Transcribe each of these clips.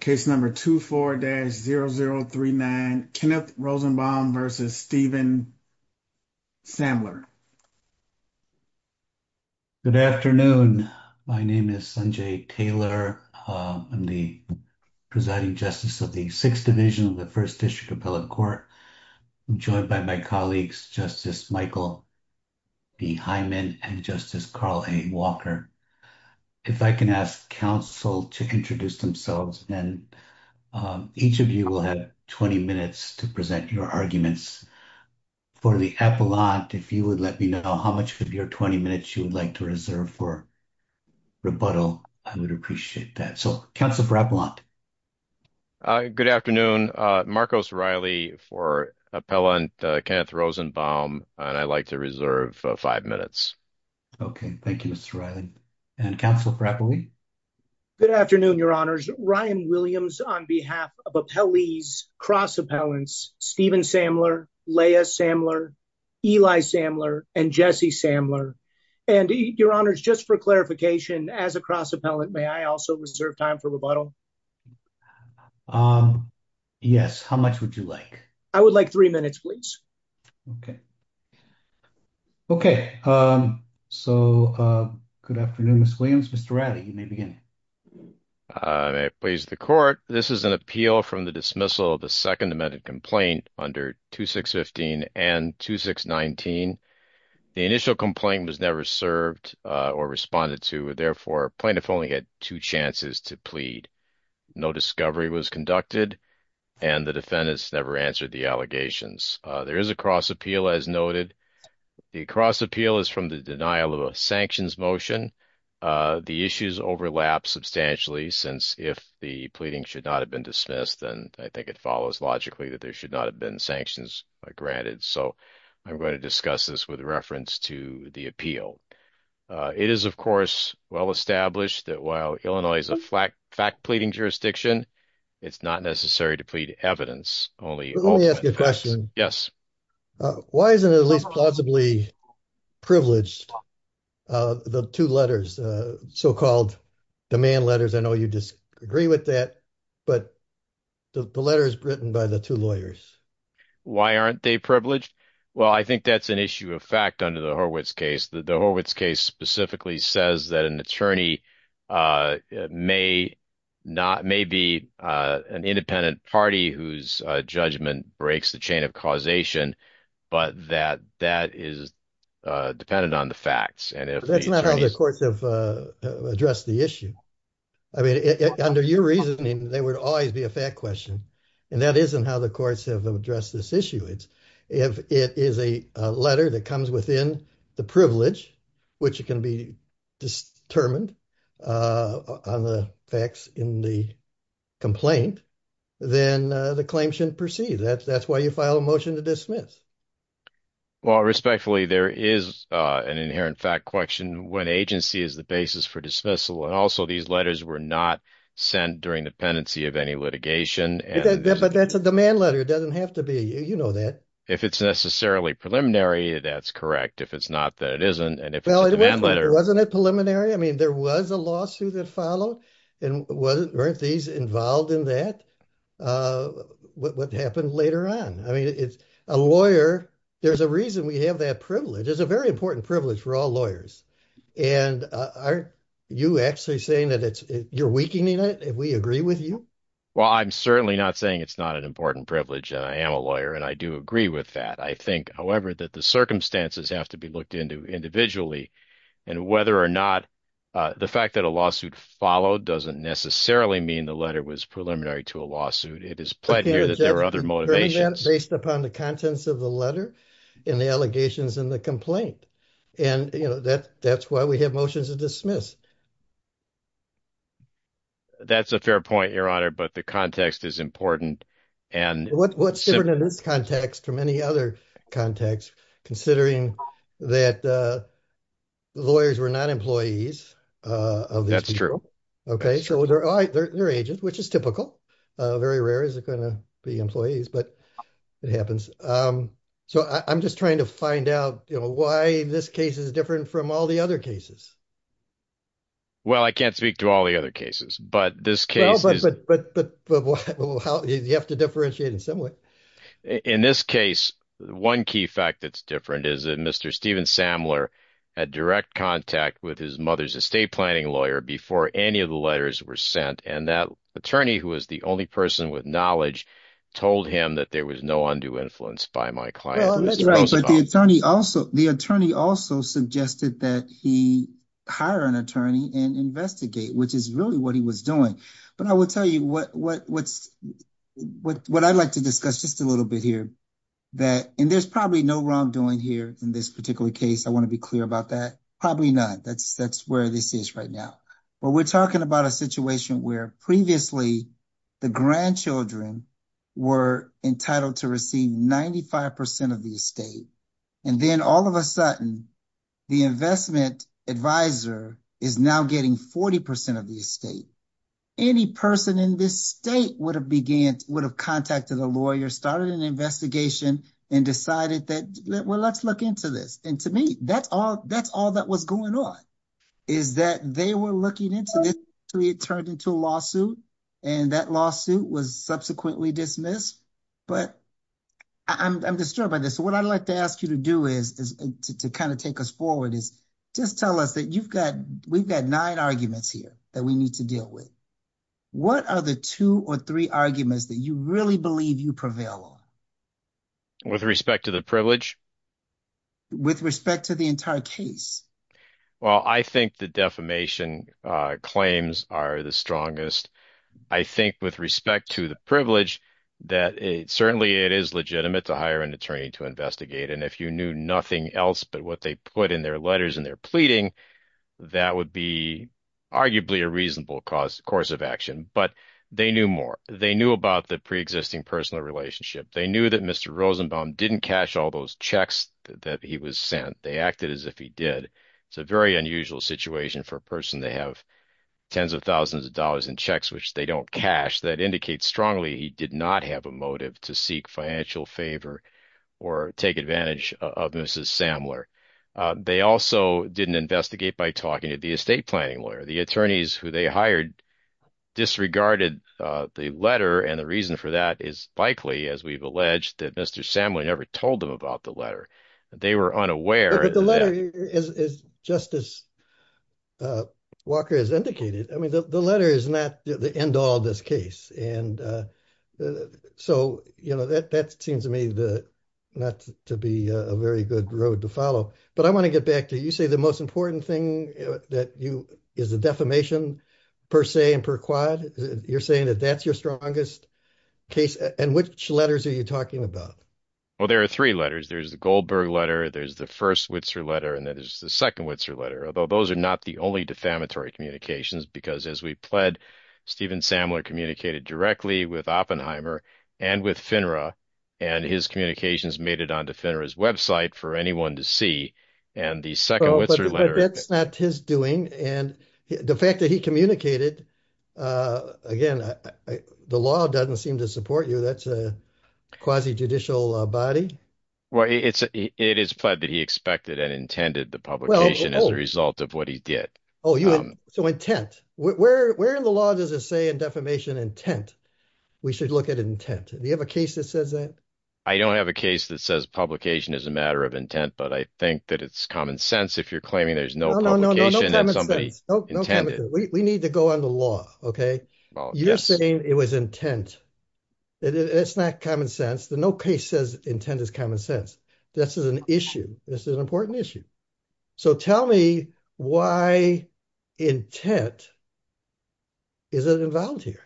case number 24-0039 Kenneth Rosenbaum versus Stephen Samler. Good afternoon. My name is Sanjay Taylor. I'm the Presiding Justice of the 6th Division of the First District Appellate Court. I'm joined by my colleagues Justice Michael B. Hyman and Justice Carl A. Walker. If I can ask counsel to introduce themselves and each of you will have 20 minutes to present your arguments. For the appellant, if you would let me know how much of your 20 minutes you would like to reserve for rebuttal, I would appreciate that. So counsel for appellant. Good afternoon. Marcos Riley for appellant Kenneth Rosenbaum and I'd like to reserve five minutes. Okay, thank you Mr. Riley. And counsel for appellant. Good afternoon, your honors. Ryan Williams on behalf of appellees cross appellants Stephen Samler, Leia Samler, Eli Samler, and Jesse Samler. And your honors, just for clarification as a cross appellant, may I also reserve time for rebuttal? Yes, how much would you like? I would like three minutes please. Okay, so good afternoon Ms. Williams. Mr. Riley, you may begin. May I please the court. This is an appeal from the dismissal of the second amended complaint under 2615 and 2619. The initial complaint was never served or responded to, therefore plaintiff only had two chances to plead. No discovery was conducted and the defendants never answered the allegations. There is a cross appeal as noted. The cross appeal is from the denial of a sanctions motion. The issues overlap substantially since if the pleading should not have been dismissed then I think it follows logically that there should not have been sanctions granted. So I'm going to discuss this with reference to the appeal. It is of course well established that while Illinois is a fact pleading jurisdiction, it's not necessary to plead evidence only. Let me ask you a question. Yes. Why isn't it at least plausibly privileged the two letters, so-called demand letters? I know you disagree with that, but the letter is written by the two lawyers. Why aren't they privileged? Well, I think that's an issue of fact under the Horwitz case. The attorney may be an independent party whose judgment breaks the chain of causation, but that is dependent on the facts. That's not how the courts have addressed the issue. I mean, under your reasoning there would always be a fact question and that isn't how the courts have addressed this issue. It is a letter that comes within the privilege which can be determined on the facts in the complaint, then the claim shouldn't proceed. That's why you file a motion to dismiss. Well, respectfully there is an inherent fact question when agency is the basis for dismissal and also these letters were not sent during the pendency of any litigation. But that's a demand letter. It doesn't have to be. You know that. If it's necessarily preliminary, that's correct. If it's not, then it isn't. Well, wasn't it preliminary? I mean, there was a lawsuit that followed and weren't these involved in that? What happened later on? I mean, it's a lawyer. There's a reason we have that privilege. It's a very important privilege for all lawyers. And aren't you actually saying that you're weakening it if we agree with you? Well, I'm certainly not saying it's not an important privilege. I am a lawyer and I do agree with that. I think, however, that the circumstances have to be looked into individually and whether or not the fact that a lawsuit followed doesn't necessarily mean the letter was preliminary to a lawsuit. It is clear that there are other motivations based upon the contents of the letter and the allegations in the complaint. And that's why we have motions to dismiss. That's a fair point, Your Honor, but the context is important. What's different in this context from any other context, considering that lawyers were not employees of these people? That's true. So they're agents, which is typical. Very rare is it going to be employees, but it happens. So I'm just trying to find out why this case is different from all the other cases. Well, I can't speak to all the other cases, but this case is... But you have to differentiate in some way. In this case, one key fact that's different is that Mr. Stephen Samler had direct contact with his mother's estate planning lawyer before any of the letters were sent. And that attorney, who was the only person with knowledge, told him that there was no undue influence by my client. Well, that's right, but the attorney also suggested that he hire an attorney and investigate, which is really what he was doing. But I will tell you what I'd like to discuss just a little bit here. And there's probably no wrongdoing here in this particular case. I want to be clear about that. Probably not. That's where this is right now. But we're talking about a situation where previously the grandchildren were entitled to receive 95% of the estate. And then all of a sudden, the investment advisor is now getting 40% of the estate. Any person in this state would have contacted a lawyer, started an investigation, and decided that, well, let's look into this. And to me, that's all that was going on, is that they were looking into this until it turned into a lawsuit. And that lawsuit was subsequently dismissed. But I'm disturbed by this. So what I'd like to ask you to do is, to kind of take us forward, is just tell us that you've got, we've got nine arguments here that we need to deal with. What are the two or three arguments that you really believe you prevail on? With respect to the privilege? With respect to the entire case? Well, I think the defamation claims are the strongest. I think with respect to the privilege, that certainly it is legitimate to hire an attorney to investigate. And if you knew nothing else but what they put in their letters and their pleading, that would be arguably a reasonable course of action. But they knew more. They knew about the pre-existing personal relationship. They knew that Mr. Rosenbaum didn't cash all those checks that he was sent. They acted as if he did. It's a very unusual situation for a person to have tens of thousands of dollars in checks, which they don't cash, that indicates strongly he did not have a motive to seek financial favor or take advantage of Mrs. Samler. They also didn't investigate by talking to the estate planning lawyer. The attorneys who they hired disregarded the letter. And the reason for that is likely, as we've alleged, that Mr. Samler never told them about the letter. They were unaware. But the letter, just as Walker has indicated, the letter is not the end-all of this case. So that seems to me not to be a very good road to follow. But I want to get back to, you say the most important thing is the defamation per se and per quad. You're saying that that's your strongest case. And which letters are you talking about? Well, there are three letters. There's the Goldberg letter, there's the first Whitzer letter, and that is the second Whitzer letter. Although those are not the only defamatory communications, because as we pled, Stephen Samler communicated directly with Oppenheimer and with FINRA, and his communications made it onto FINRA's website for anyone to see. And the second Whitzer letter... But that's not his doing. And the fact that he communicated, again, the law doesn't seem to support you. That's a quasi-judicial body. Well, it is pled that he expected and intended the publication as a result of what he did. Oh, so intent. Where in the law does it say in defamation intent? We should look at intent. Do you have a case that says that? I don't have a case that says publication is a matter of intent, but I think that it's common sense if you're claiming there's no publication that somebody intended. We need to go on the law, okay? You're saying it was intent. It's not common sense. No case says intent is common sense. This is an issue. This is an important issue. So tell me why intent isn't involved here.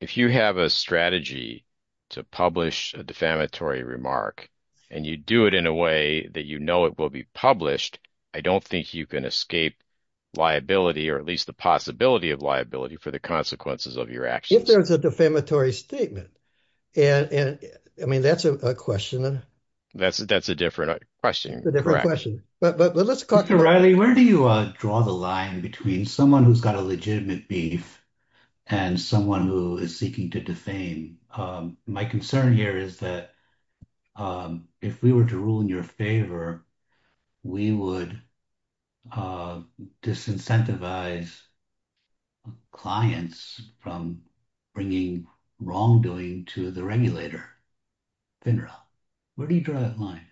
If you have a strategy to publish a defamatory remark and you do it in a way that you know it will be published, I don't think you can escape liability or at least the possibility of liability for the consequences of your actions. If there's a defamatory statement. I mean, that's a question. That's a different question. It's a different question. But let's... Dr. Riley, where do you draw the line between someone who's got a legitimate beef and someone who is seeking to defame? My concern here is that if we were to rule in your favor, we would disincentivize clients from bringing wrongdoing to the regulator. Where do you draw that line?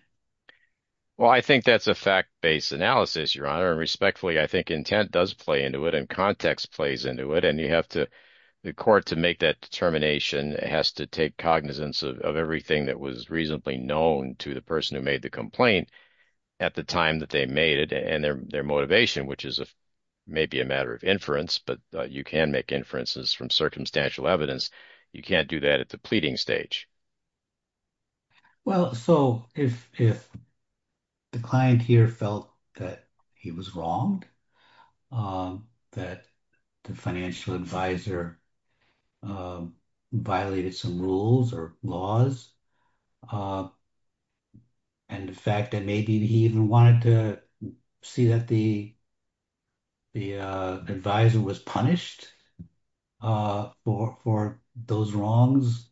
Well, I think that's a fact-based analysis, Your Honor. And respectfully, I think intent does play into it and context plays into it. And you have to, the court to make that determination has to take cognizance of everything that was reasonably known to the person who made the complaint at the time that they made it and their motivation, which is maybe a matter of inference, but you can make inferences from circumstantial evidence. You can't do that at the pleading stage. Well, so if the client here felt that he was wronged, that the financial advisor violated some rules or laws, and the fact that maybe he even wanted to see that the advisor was punished for those wrongs,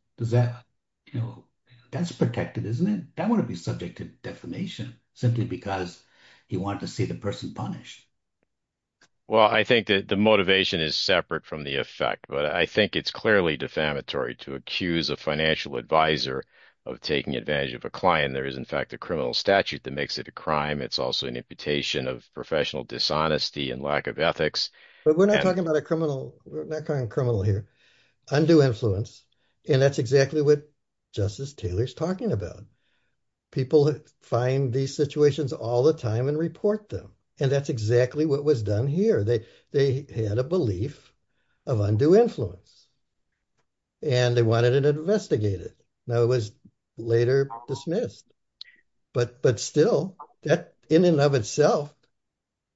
that's protected, isn't it? That wouldn't be subject to defamation simply because he wanted to see the person punished. Well, I think that the motivation is separate from the effect, but I think it's clearly defamatory to accuse a financial advisor of taking advantage of a client. There is, in fact, a criminal statute that makes it a crime. It's also an imputation of professional dishonesty and lack of ethics. But we're not talking about a criminal, we're not calling a criminal here, undue influence. And that's exactly what Justice Taylor's talking about. People find these what was done here. They had a belief of undue influence, and they wanted to investigate it. Now, it was later dismissed. But still, in and of itself,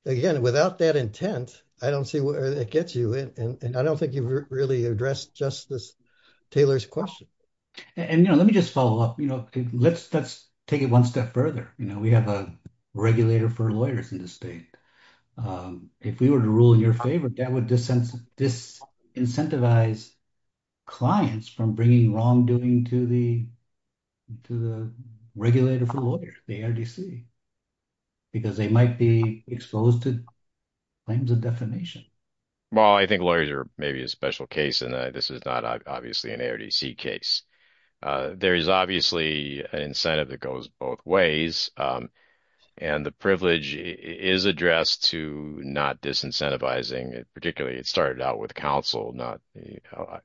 again, without that intent, I don't see where it gets you. And I don't think you've really addressed Justice Taylor's question. And let me just follow up. Let's take it one step further. We have a regulator for lawyers in the state. If we were to rule in your favor, that would disincentivize clients from bringing wrongdoing to the regulator for lawyers, the ARDC, because they might be exposed to claims of defamation. Well, I think lawyers are maybe a special case, and this is not obviously an ARDC case. There is obviously an incentive that goes both ways. And the privilege is addressed to not disincentivizing. Particularly, it started out with counsel,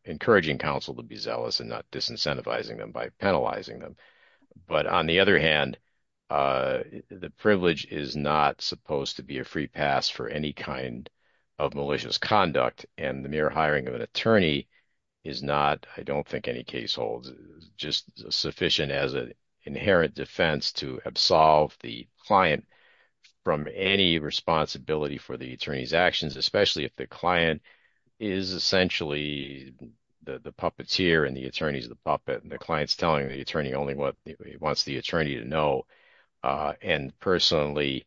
encouraging counsel to be zealous and not disincentivizing them by penalizing them. But on the other hand, the privilege is not supposed to be a free pass for any kind of malicious conduct. And the mere hiring of an attorney is not, I don't think any case holds, just sufficient as an inherent defense to absolve the client from any responsibility for the attorney's actions, especially if the client is essentially the puppeteer and the attorney's the puppet, and the client's telling the attorney only what he wants the attorney to know. And personally,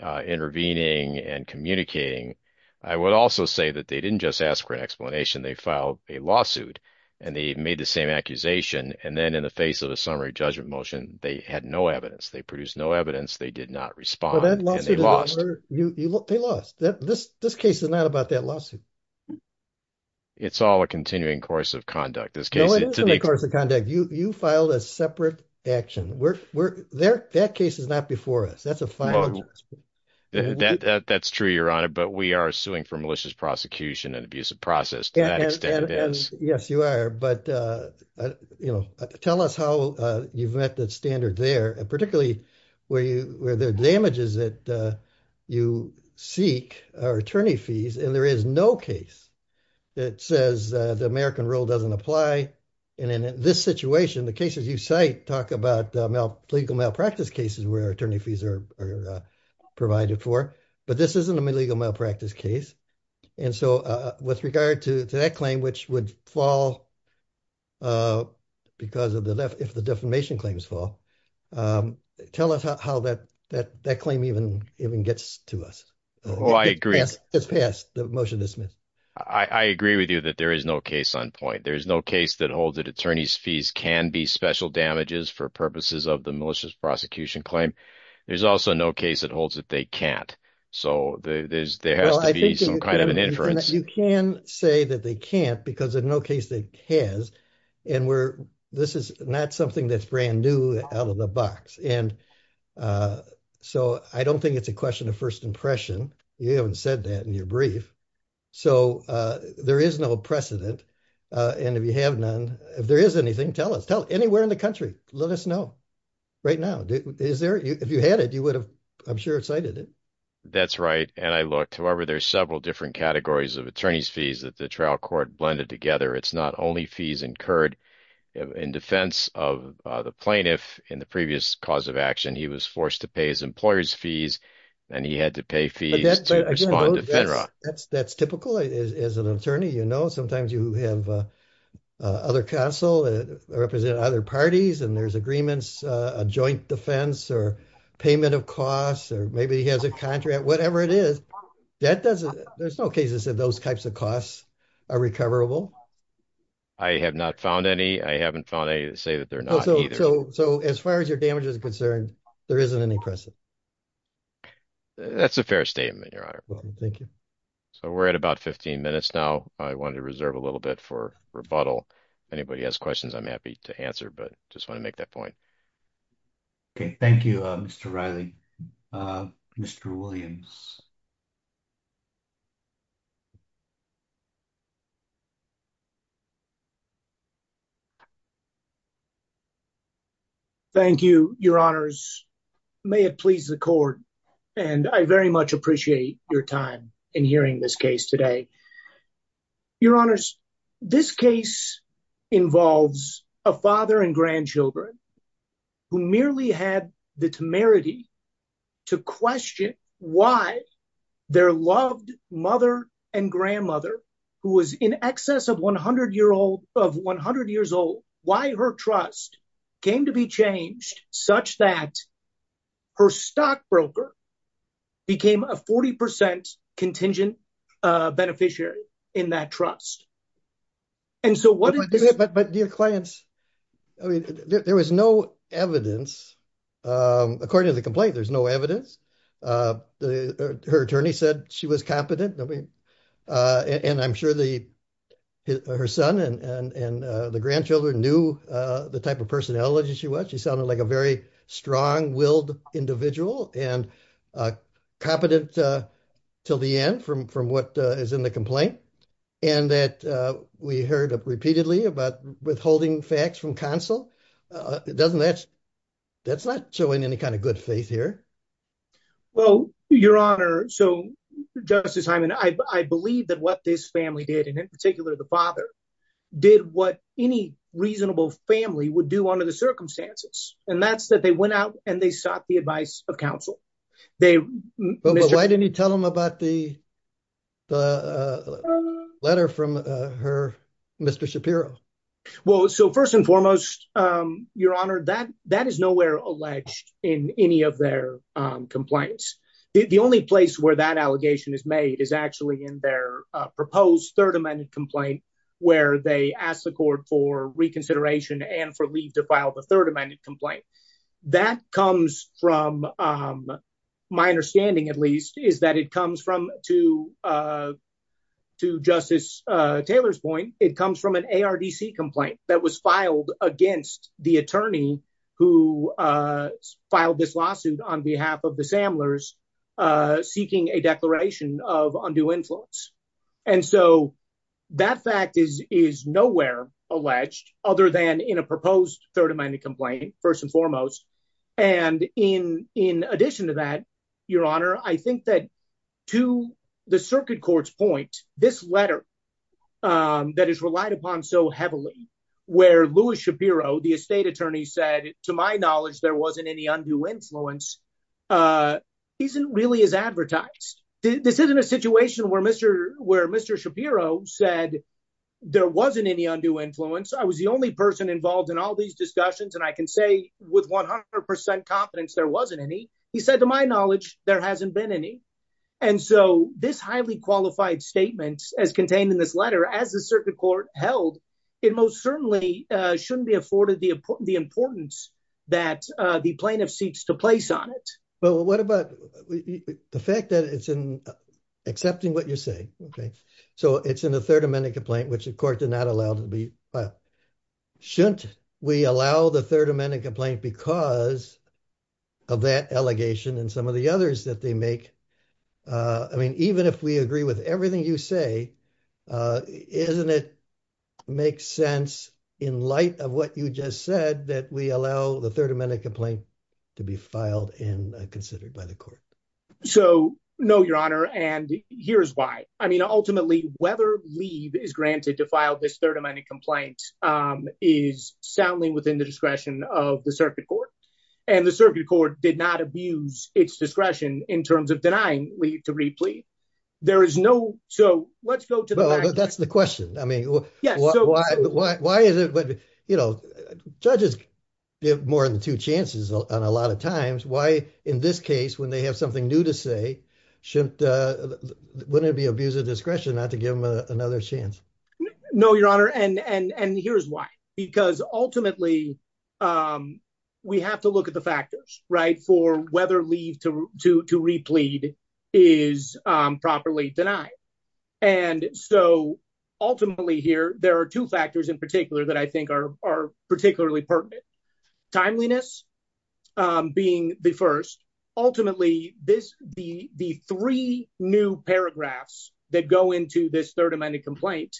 intervening and communicating, I would also say that they didn't just ask for an explanation. They filed a lawsuit and they made the same accusation. And then in the face of a summary judgment motion, they had no evidence. They produced no evidence. They did not respond, and they lost. They lost. This case is not about that lawsuit. It's all a continuing course of conduct. No, it isn't a course of conduct. You filed a separate action. We're there. That case is not before us. That's a fine. That's true, Your Honor. But we are suing for malicious prosecution and abusive process. Yes, you are. But, you know, tell us how you've met that standard there, particularly where there are damages that you seek, or attorney fees, and there is no case that says the American rule doesn't apply. And in this situation, the cases you cite talk about legal malpractice cases where attorney fees are provided for. But this isn't a legal malpractice case. And so with regard to that claim, which would fall because of the defamation claims fall, tell us how that claim even gets to us. Oh, I agree. It's passed. The motion is dismissed. I agree with you that there is no case on point. There's no case that holds that attorney's fees can be special damages for purposes of the malicious prosecution claim. There's also no case that holds that they can't. So there has to be some kind of an inference. You can say that they can't because in no case they has. And this is not something that's brand new out of the box. And so I don't think it's a question of first impression. You haven't said that in your brief. So there is no precedent. And if you have none, if there is anything, tell us, tell anywhere in the country, let us know right now. Is there if you had it, you would have, I'm sure, cited it. That's right. And I looked, however, there's several different categories of attorney's fees that the trial court blended together. It's not only fees incurred in defense of the plaintiff in the previous cause of action. He was forced to pay his employer's fees and he had to pay respond to FINRA. That's typical as an attorney, you know, sometimes you have other counsel that represent other parties and there's agreements, a joint defense or payment of costs, or maybe he has a contract, whatever it is, that doesn't, there's no cases that those types of costs are recoverable. I have not found any. I haven't found any to say that they're not either. So as far as your damage is concerned, there isn't any precedent. Okay. That's a fair statement, Your Honor. Thank you. So we're at about 15 minutes now. I wanted to reserve a little bit for rebuttal. Anybody has questions, I'm happy to answer, but just want to make that point. Okay. Thank you, Mr. Riley. Mr. Williams. Thank you, Your Honors. May it please the court. And I very much appreciate your time in hearing this case today. Your Honors, this case involves a father and grandchildren who merely had the temerity to question why their loved mother and grandmother, who was in excess of 100 years old, why her trust came to be changed such that her stockbroker became a 40% contingent beneficiary in that trust. And so what... But dear clients, I mean, there was no evidence. According to the complaint, there's no evidence. Her attorney said she was competent. And I'm sure her son and the grandchildren knew the type of personality she was. She sounded like a very strong-willed individual and competent till the end from what is in the complaint. And that we heard repeatedly about withholding facts from counsel. That's not showing any kind of good faith here. Well, Your Honor, so Justice Hyman, I believe that what this family did, and in particular, the father, did what any reasonable family would do under the circumstances. And that's that they went out and they sought the advice of counsel. But why didn't you tell them about the letter from her Mr. Shapiro? Well, so first and foremost, Your Honor, that is nowhere alleged in any of their complaints. The only place where that allegation is made is actually in their proposed Third Amendment complaint, where they asked the court for reconsideration and for leave to file the Third Amendment complaint. My understanding, at least, is that it comes from, to Justice Taylor's point, it comes from an ARDC complaint that was filed against the attorney who filed this lawsuit on behalf of the Samlers, seeking a declaration of undue influence. And so that fact is nowhere alleged other than in a proposed Third Amendment complaint, first and foremost. And in addition to that, Your Honor, I think that to the circuit court's point, this letter that is relied upon so heavily, where Louis Shapiro, the estate attorney said, to my knowledge, there wasn't any undue influence, isn't really as advertised. This isn't a situation where Mr. Shapiro said, there wasn't any undue influence. I was the only person involved in all these discussions. And I can say with 100% confidence, there wasn't any. He said, to my knowledge, there hasn't been any. And so this highly qualified statement, as contained in this letter, as the circuit court held, it most certainly shouldn't be afforded the importance that the plaintiff seeks to place on it. Well, what about the fact that it's in accepting what you're saying? Okay. So it's in the Third Amendment complaint, which the court did not allow to be filed. Shouldn't we allow the Third Amendment complaint because of that allegation and some of the others that they make? I mean, even if we agree with everything you say, doesn't it make sense in light of what you just said that we allow the Third Amendment complaint to be filed and considered by the court? So, no, your honor. And here's why. I mean, ultimately, whether leave is granted to file this Third Amendment complaint is soundly within the discretion of the circuit court. And the circuit court did not abuse its discretion in terms of denying leave to replete. There is no. So let's go to that. That's the question. I mean, why is it? But, you know, judges give more than two chances on a lot of times. Why in this case, when they have something new to say, shouldn't it be abuse of discretion not to give them another chance? No, your honor. And here's why. Because ultimately, um, we have to look at the factors right for whether leave to to to replete is properly denied. And so ultimately here, there are two factors in particular that I think are are particularly pertinent. Timeliness being the first. Ultimately, this the the three new paragraphs that go into this Third Amendment complaint,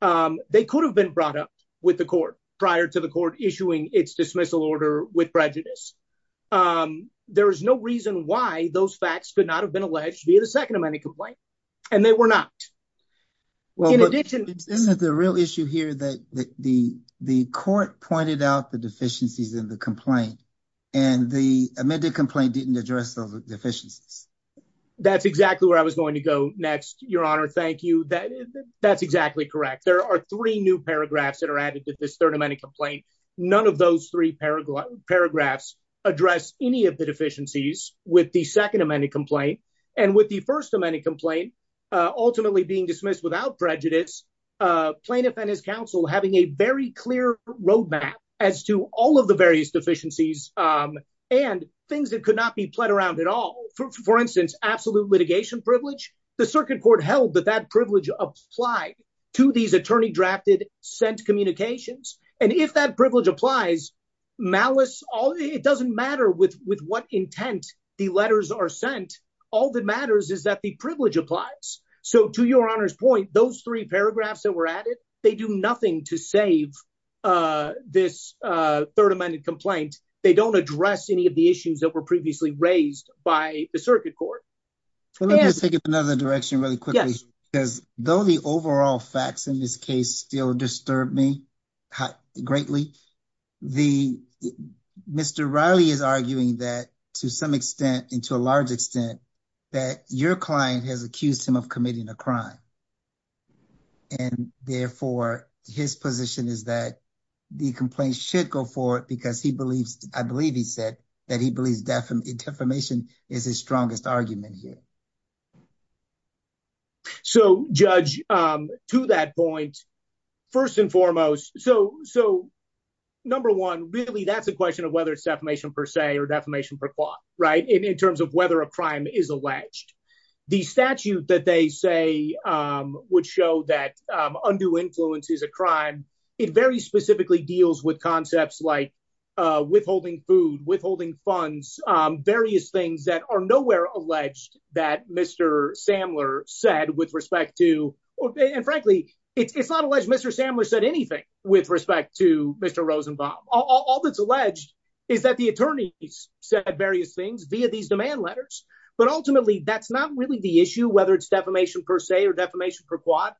they could have been brought up with the court prior to court issuing its dismissal order with prejudice. There is no reason why those facts could not have been alleged via the Second Amendment complaint. And they were not. Well, in addition, isn't the real issue here that the the court pointed out the deficiencies in the complaint and the amended complaint didn't address the deficiencies? That's exactly where I was going to go next. Your honor. Thank you. That's exactly correct. There are three new paragraphs that are added to this Third Amendment complaint. None of those three paragraph paragraphs address any of the deficiencies with the Second Amendment complaint and with the First Amendment complaint ultimately being dismissed without prejudice plaintiff and his counsel having a very clear roadmap as to all of the various deficiencies and things that could not be played around at all. For instance, absolute litigation privilege. The circuit court held that that privilege applied to these attorney drafted sent communications. And if that privilege applies malice, all it doesn't matter with with what intent the letters are sent. All that matters is that the privilege applies. So to your honor's point, those three paragraphs that were added, they do nothing to save this Third Amendment complaint. They don't address any of the issues that were previously raised by the circuit court. So let's take it another direction really quickly, because though the overall facts in this case still disturbed me greatly, the Mr. Riley is arguing that to some extent into a large extent that your client has accused him of committing a crime. And therefore, his position is that the complaint should go forward because he believes, I believe he said that he believes defamation is his strongest argument here. So, Judge, to that point, first and foremost, so number one, really, that's a question of whether it's defamation per se or defamation per qua, right, in terms of whether a crime is alleged. The statute that they say would show that undue influence is a crime. It very specifically deals with concepts like withholding food, withholding funds, various things that are nowhere alleged that Mr. Samler said with respect to. And frankly, it's not alleged Mr. Samler said anything with respect to Mr. Rosenbaum. All that's alleged is that the attorneys said various things via these demand letters. But ultimately, that's not really the issue, whether it's defamation per se or per qua,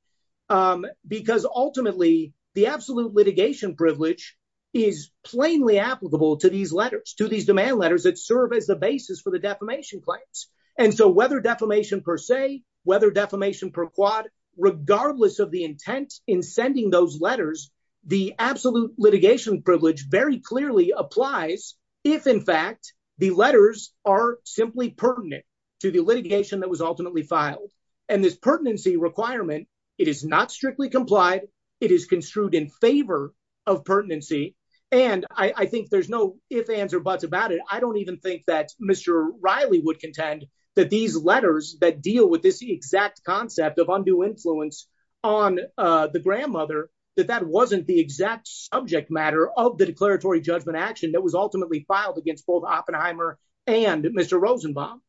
because ultimately, the absolute litigation privilege is plainly applicable to these letters, to these demand letters that serve as the basis for the defamation claims. And so whether defamation per se, whether defamation per qua, regardless of the intent in sending those letters, the absolute litigation privilege very clearly applies if, in fact, the letters are simply pertinent to the litigation that was ultimately filed. And this pertinency requirement, it is not strictly complied. It is construed in favor of pertinency. And I think there's no ifs, ands, or buts about it. I don't even think that Mr. Riley would contend that these letters that deal with this exact concept of undue influence on the grandmother, that that wasn't the exact subject matter of the declaratory judgment action that was ultimately filed against both Oppenheimer and Mr. Rosenbaum.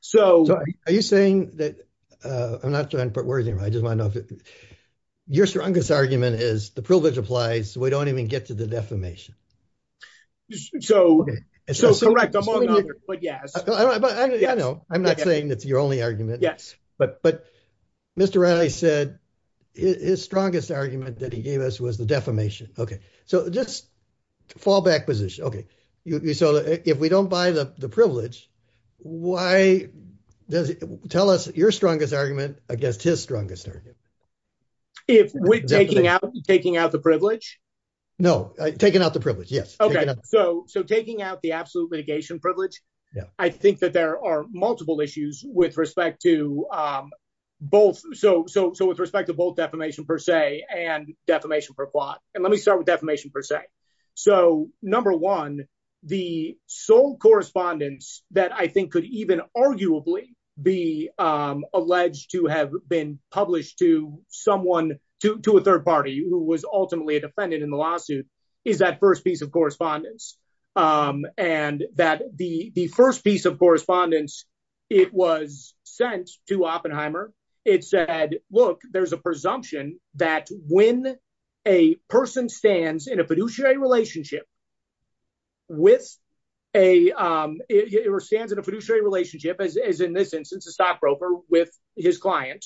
So are you saying that, I'm not trying to put words in your mouth, I just want to know if your strongest argument is the privilege applies, so we don't even get to the defamation. So, so correct, among others, but yes. I know, I'm not saying that's your only argument. Yes. But, but Mr. Riley said his strongest argument that he gave us was the defamation. Okay, so just fallback position. Okay, so if we don't buy the privilege, why does it, tell us your strongest argument against his strongest argument. If we're taking out, taking out the privilege? No, taking out the privilege, yes. Okay, so, so taking out the absolute litigation privilege, I think that there are multiple issues with respect to both, so, so, so with respect to both defamation per se and defamation per plot. Let me start with defamation per se. So number one, the sole correspondence that I think could even arguably be alleged to have been published to someone, to a third party who was ultimately a defendant in the lawsuit, is that first piece of correspondence. And that the first piece of correspondence, it was sent to Oppenheimer. It said, look, there's a presumption that when a person stands in a fiduciary relationship with a, or stands in a fiduciary relationship, as in this instance, a stockbroker with his client,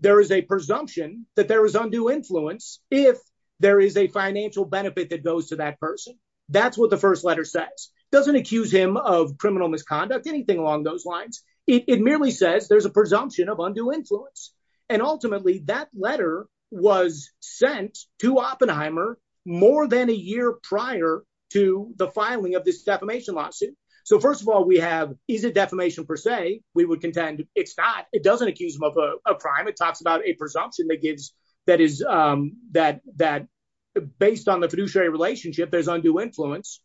there is a presumption that there is undue influence if there is a financial benefit that goes to that person. That's what the first letter says. Doesn't accuse him of criminal misconduct, anything along those lines. It merely says there's a presumption of undue influence. And ultimately, that letter was sent to Oppenheimer more than a year prior to the filing of this defamation lawsuit. So first of all, we have, is it defamation per se? We would contend it's not. It doesn't accuse him of a crime. It talks about a presumption that gives, that is, that, that based on the fiduciary relationship, there's undue influence.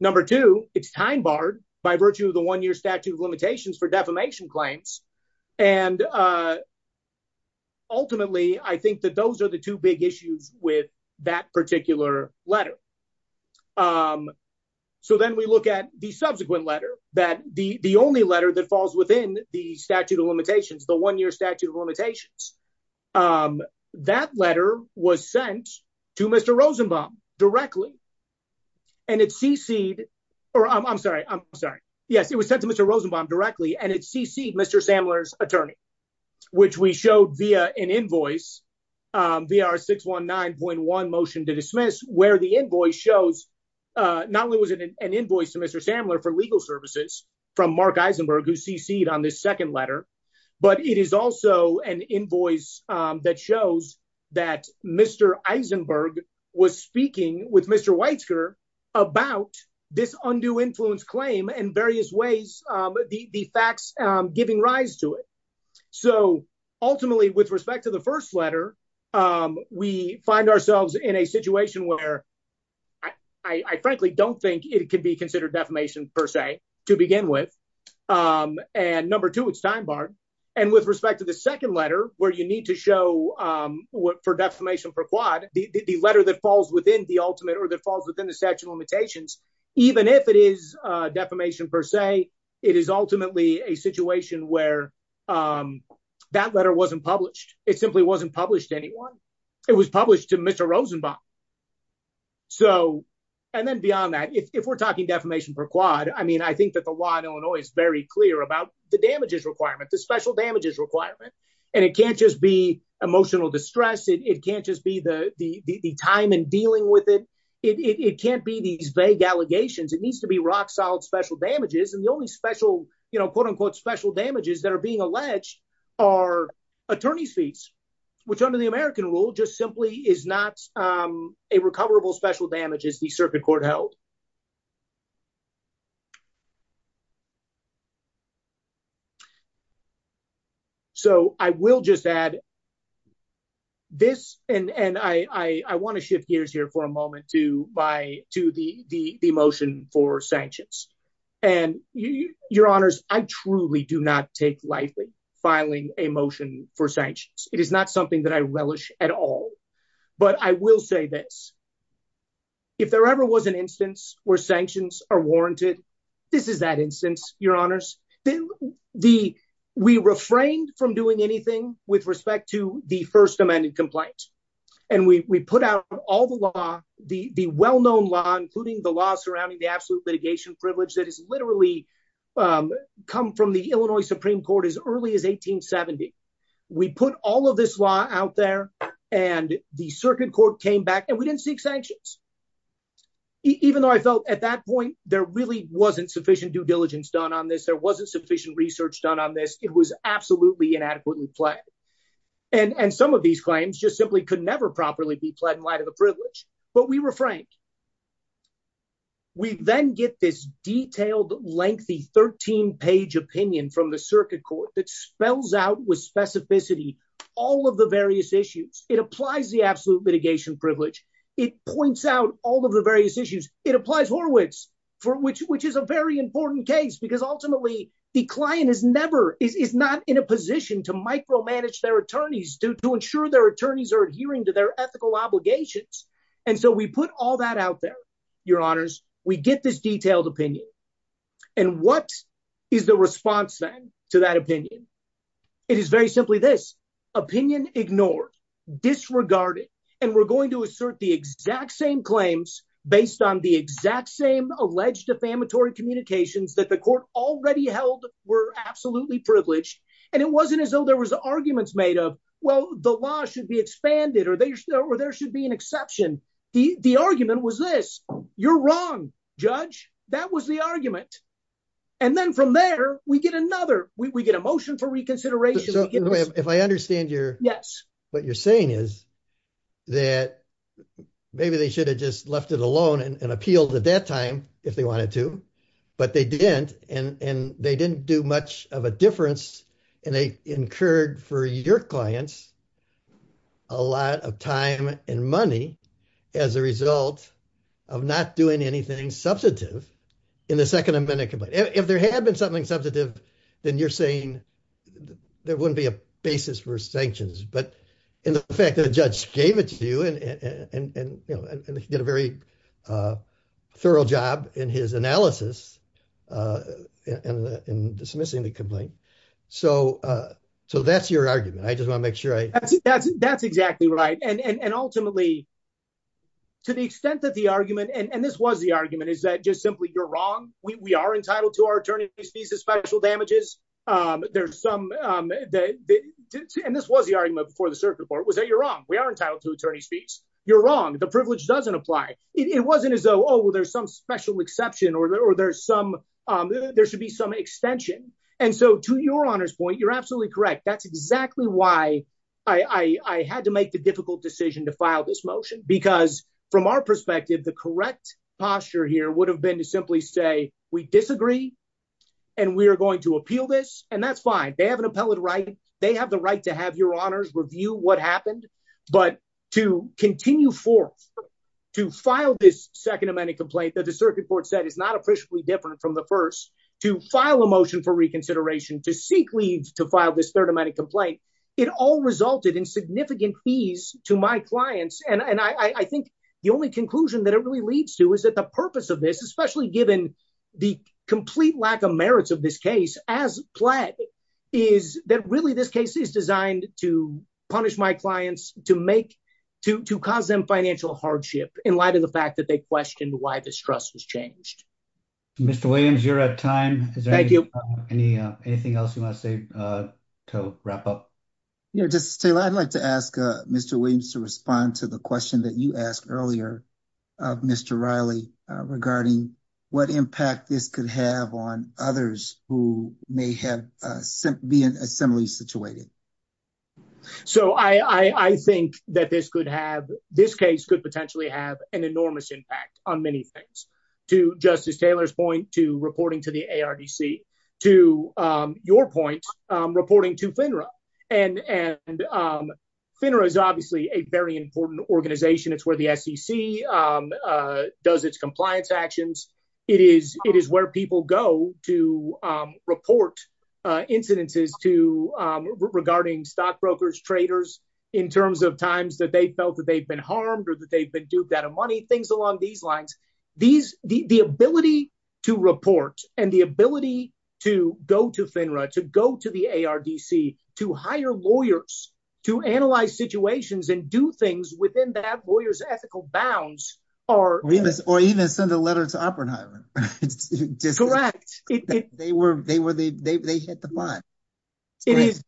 Number two, it's time barred by virtue of the one-year statute of limitations for defamation claims. And ultimately, I think that those are the two big issues with that particular letter. So then we look at the subsequent letter, that the only letter that falls within the statute of limitations, the one-year statute of limitations. That letter was sent to Mr. Rosenbaum directly. And it's cc'd, or I'm sorry, I'm sorry. Yes, it was sent to Mr. Rosenbaum directly. And it's cc'd Mr. Sammler's attorney, which we showed via an invoice, via our 619.1 motion to dismiss, where the invoice shows, not only was it an invoice to Mr. Sammler for legal services from Mark Eisenberg, who cc'd on this second letter, but it is also an invoice that shows that Mr. Eisenberg was speaking with Mr. Weitzker about this undue influence claim in various ways, the facts giving rise to it. So ultimately, with respect to the first letter, we find ourselves in a situation where I frankly don't think it could be considered defamation, per se, to begin with. And number two, it's time barred. And with respect to the second letter, where you need to show for defamation per quad, the letter that falls within the ultimate, that falls within the statute of limitations, even if it is defamation per se, it is ultimately a situation where that letter wasn't published. It simply wasn't published to anyone. It was published to Mr. Rosenbaum. So and then beyond that, if we're talking defamation per quad, I mean, I think that the law in Illinois is very clear about the damages requirement, the special damages requirement. And it can't just be emotional distress, it can't just be the time and dealing with it. It can't be these vague allegations, it needs to be rock solid special damages. And the only special, you know, quote unquote, special damages that are being alleged are attorney's fees, which under the American rule just simply is not a recoverable I want to shift gears here for a moment to buy to the the motion for sanctions. And your honors, I truly do not take lightly filing a motion for sanctions. It is not something that I relish at all. But I will say this. If there ever was an instance where sanctions are warranted, this is that instance, your honors, then the we refrained from doing anything with respect to the first amended complaint. And we put out all the law, the well known law, including the law surrounding the absolute litigation privilege that is literally come from the Illinois Supreme Court as early as 1870. We put all of this law out there. And the circuit court came back and we didn't seek sanctions. Even though I felt at that point, there really wasn't sufficient due diligence done on this, there wasn't sufficient research done on this, it was absolutely inadequately played. And some of these claims just simply could never properly be played in light of the privilege. But we were frank. We then get this detailed, lengthy 13 page opinion from the circuit court that spells out with specificity all of the various issues. It applies the absolute litigation privilege. It points out all of the various issues. It applies Horowitz, for which which is a very important case, because ultimately, the client is never is not in a position to micromanage their attorneys to ensure their attorneys are adhering to their ethical obligations. And so we put all that out there, your honors, we get this detailed opinion. And what is the response then to that opinion? It is very simply this opinion ignored, disregarded. And we're going to assert the exact same claims based on the exact same alleged defamatory communications that the court already held were absolutely privileged. And it wasn't as though there was arguments made up. Well, the law should be expanded or there should be an exception. The argument was this. You're wrong, Judge. That was the argument. And then from there, we get another we get a motion for reconsideration. If I understand your yes, what you're saying is that maybe they should have just left it alone and appealed at that time, if they wanted to. But they didn't. And they didn't do much of a difference. And they incurred for your clients a lot of time and money as a result of not doing anything substantive in the second amendment. If there had been something substantive, then you're saying there wouldn't be a basis for sanctions. But in the fact that the judge gave it to you and did a very thorough job in his analysis and dismissing the complaint. So that's your argument. I just want to make sure that's exactly right. And ultimately, to the extent that the argument and this was the argument is that just simply you're wrong. We are entitled to our special damages. There's some that and this was the argument before the circuit court was that you're wrong. We are entitled to attorney's fees. You're wrong. The privilege doesn't apply. It wasn't as though, oh, well, there's some special exception or there's some there should be some extension. And so to your honor's point, you're absolutely correct. That's exactly why I had to make the difficult decision to file this motion, because from our perspective, the correct posture here would have been to simply say we disagree and we are going to appeal this. And that's fine. They have an appellate right. They have the right to have your honors review what happened. But to continue for to file this second amendment complaint that the circuit court said is not officially different from the first to file a motion for reconsideration, to seek leave, to file this third amendment complaint. It all resulted in significant fees to my clients. And I think the only conclusion that it really leads to is that the purpose of this, especially given the complete lack of merits of this case as pledged, is that really this case is designed to punish my clients, to make to cause them financial hardship in light of the fact that they questioned why this trust was changed. Mr. Williams, you're at time. Thank you. Anything else you want to say to wrap up? You know, just I'd like to ask Mr. Williams to respond to the question that you asked earlier of Mr. Riley regarding what impact this could have on others who may have been similarly situated. So I think that this could have this case could potentially have an enormous impact on many things to Justice Taylor's point, to reporting to the ARDC, to your point, reporting to FINRA. And FINRA is obviously a very important organization. It's where the SEC does its compliance actions. It is where people go to report incidences to regarding stockbrokers, traders in terms of times that they felt that they've been harmed or that they've been duped out of money, things along these lines. The ability to report and the ability to go to FINRA, to go to the ARDC, to hire lawyers, to analyze situations and do things within that lawyer's ethical bounds are. Or even send a letter to Oppenheimer. Correct. They were they were they hit the button. It is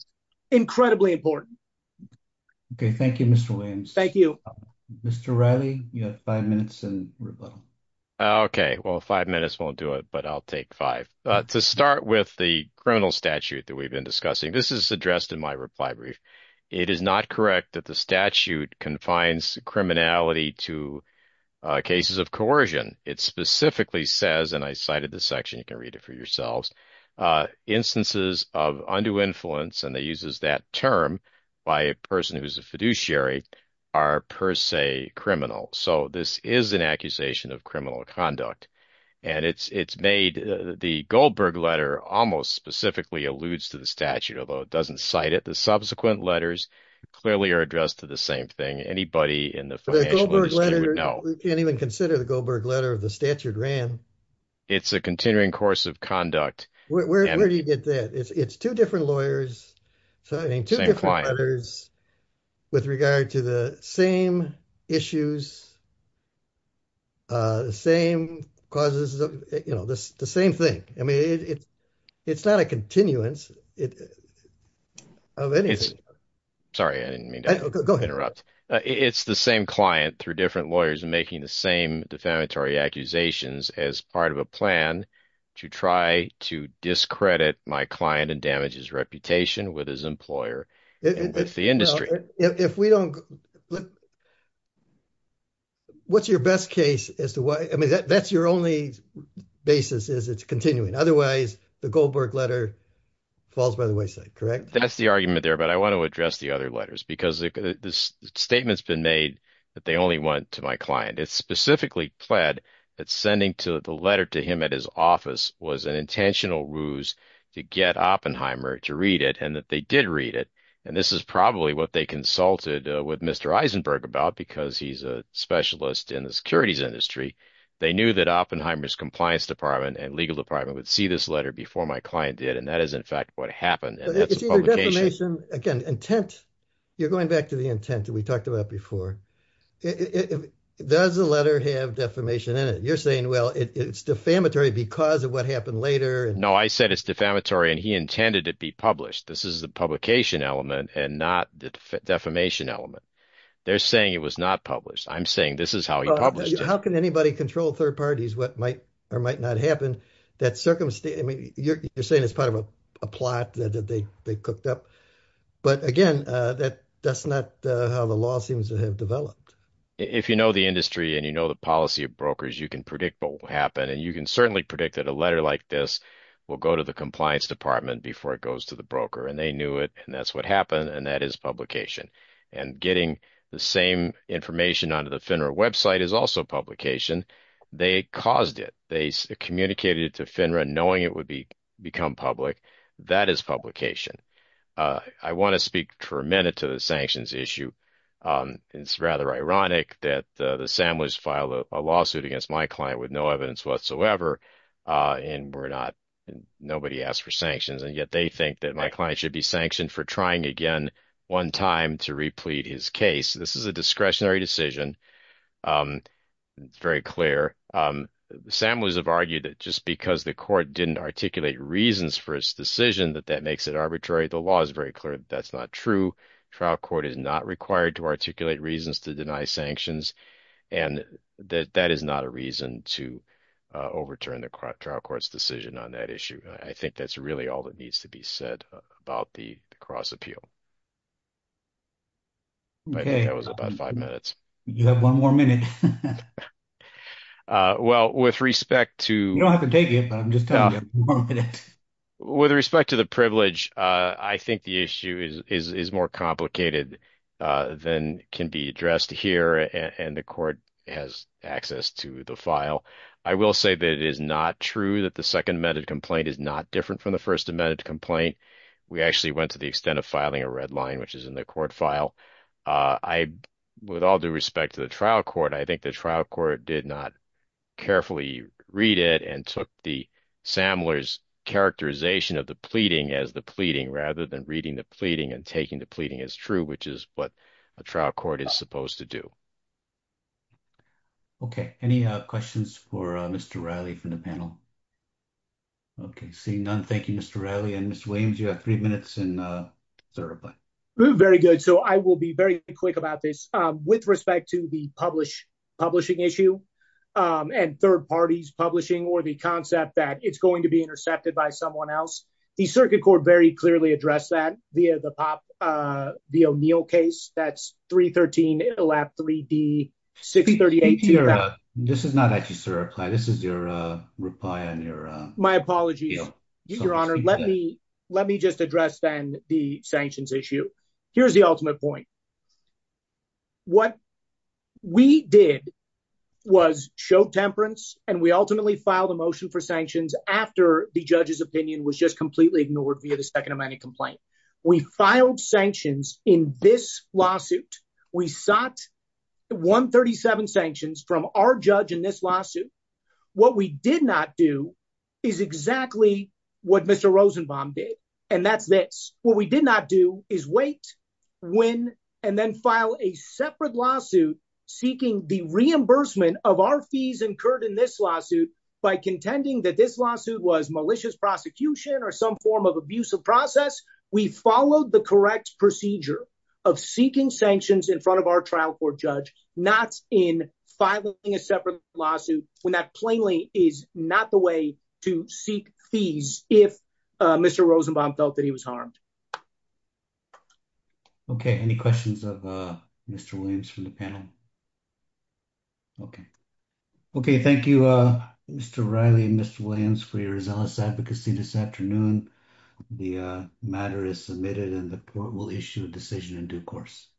incredibly important. OK, thank you, Mr. Williams. Thank you, Mr. Riley. You have five minutes and rebuttal. OK, well, five minutes won't do it, but I'll take five to start with the criminal statute that we've been discussing. This is addressed in my reply brief. It is not correct that the statute confines criminality to cases of coercion. It specifically says, and I cited this section, you can read it for yourselves, instances of undue influence. And they uses that term by a person who is a fiduciary are per se the Goldberg letter almost specifically alludes to the statute, although it doesn't cite it. The subsequent letters clearly are addressed to the same thing. Anybody in the financial industry would know. You can't even consider the Goldberg letter of the statute ran. It's a continuing course of conduct. Where do you get that? It's two different lawyers signing two different letters with regard to the same issues. The same causes, you know, the same thing. I mean, it's it's not a continuance of anything. Sorry, I didn't mean to interrupt. It's the same client through different lawyers making the same defamatory accusations as part of a plan to try to discredit my client and damage his reputation with his employer. It's the industry. If we don't look. What's your best case as to why? I mean, that's your only basis is it's continuing. Otherwise, the Goldberg letter falls by the wayside, correct? That's the argument there. But I want to address the other letters because this statement's been made that they only went to my client. It's specifically pled that sending to the letter to him at his office was an intentional ruse to get Oppenheimer to read it and that they did read it. And this is probably what they consulted with Mr. Eisenberg about because he's a specialist in the securities industry. They knew that Oppenheimer's compliance department and legal department would see this letter before my client did. And that is, in fact, what happened. Again, intent. You're going back to the intent that we talked about before. Does the letter have defamation in it? You're saying, well, it's defamatory because of what happened later. No, I said it's defamatory and he intended to be published. This is the publication element and not the defamation element. They're saying it was not published. I'm saying this is how he published it. How can anybody control third parties what might or might not happen? You're saying it's part of a plot that they cooked up. But again, that's not how the law seems to have developed. If you know the industry and you know the policy of brokers, you can predict what will happen and you can certainly predict that a letter like this will go to the compliance department before it goes to the broker. And they knew it and that's what happened and that is publication. And getting the same information onto the FINRA website is also publication. They caused it. They communicated it to FINRA knowing it would become public. That is publication. I want to speak for a minute to the sanctions issue. It's rather ironic that the Samuels filed a lawsuit against my client with no evidence whatsoever and nobody asked for sanctions. And yet they think that my client should be sanctioned for trying again one time to replete his case. This is a discretionary decision. It's very clear. Samuels have argued that just because the court didn't articulate reasons for his decision that that makes it arbitrary. The law is very clear that that's not true. Trial court is not required to articulate reasons to deny sanctions and that that is not a reason to overturn the trial court's decision on that issue. I think that's really all that needs to be said about the cross appeal. Okay. That was about five minutes. You have one more minute. Well with respect to. You don't have to take it but I'm just telling you. One minute. With respect to the privilege I think the issue is more complicated than can be addressed here and the court has access to the file. I will say that it is not true that the second amended complaint is not different from the first amended complaint. We actually went to the extent of filing a red line which is in the court file. I with all due respect to the trial court I think the trial court did not carefully read it and took the Sammler's characterization of the pleading as the pleading rather than reading the pleading and taking the pleading as true which is what a trial court is supposed to do. Okay. Any questions for Mr. Reilly from the panel? Okay. Seeing none. Thank you Mr. Reilly and Mr. Williams. You have three minutes and Very good. So I will be very quick about this. With respect to the publishing issue and third parties publishing or the concept that it's going to be intercepted by someone else. The circuit court very clearly addressed that via the POP, the O'Neill case. That's 313 3D 638. This is not actually sir. This is your reply on your. My apologies your honor. Let me let me just address then the sanctions issue. Here's the ultimate point. What we did was show temperance and we ultimately filed a motion for sanctions after the judge's opinion was just completely ignored via the second amendment complaint. We filed sanctions in this lawsuit. We sought 137 sanctions from our judge in this lawsuit. What we did not do is exactly what Mr. Rosenbaum did and that's this. What we did not do is wait, win and then file a separate lawsuit seeking the reimbursement of our fees incurred in this lawsuit by contending that this lawsuit was malicious prosecution or some form of abusive process. We followed the correct procedure of seeking sanctions in front of our trial court judge not in filing a separate lawsuit when that is not the way to seek fees if Mr. Rosenbaum felt that he was harmed. Okay. Any questions of Mr. Williams from the panel? Okay. Okay. Thank you Mr. Riley and Mr. Williams for your zealous advocacy this afternoon. The matter is submitted and the court will issue a decision in due course.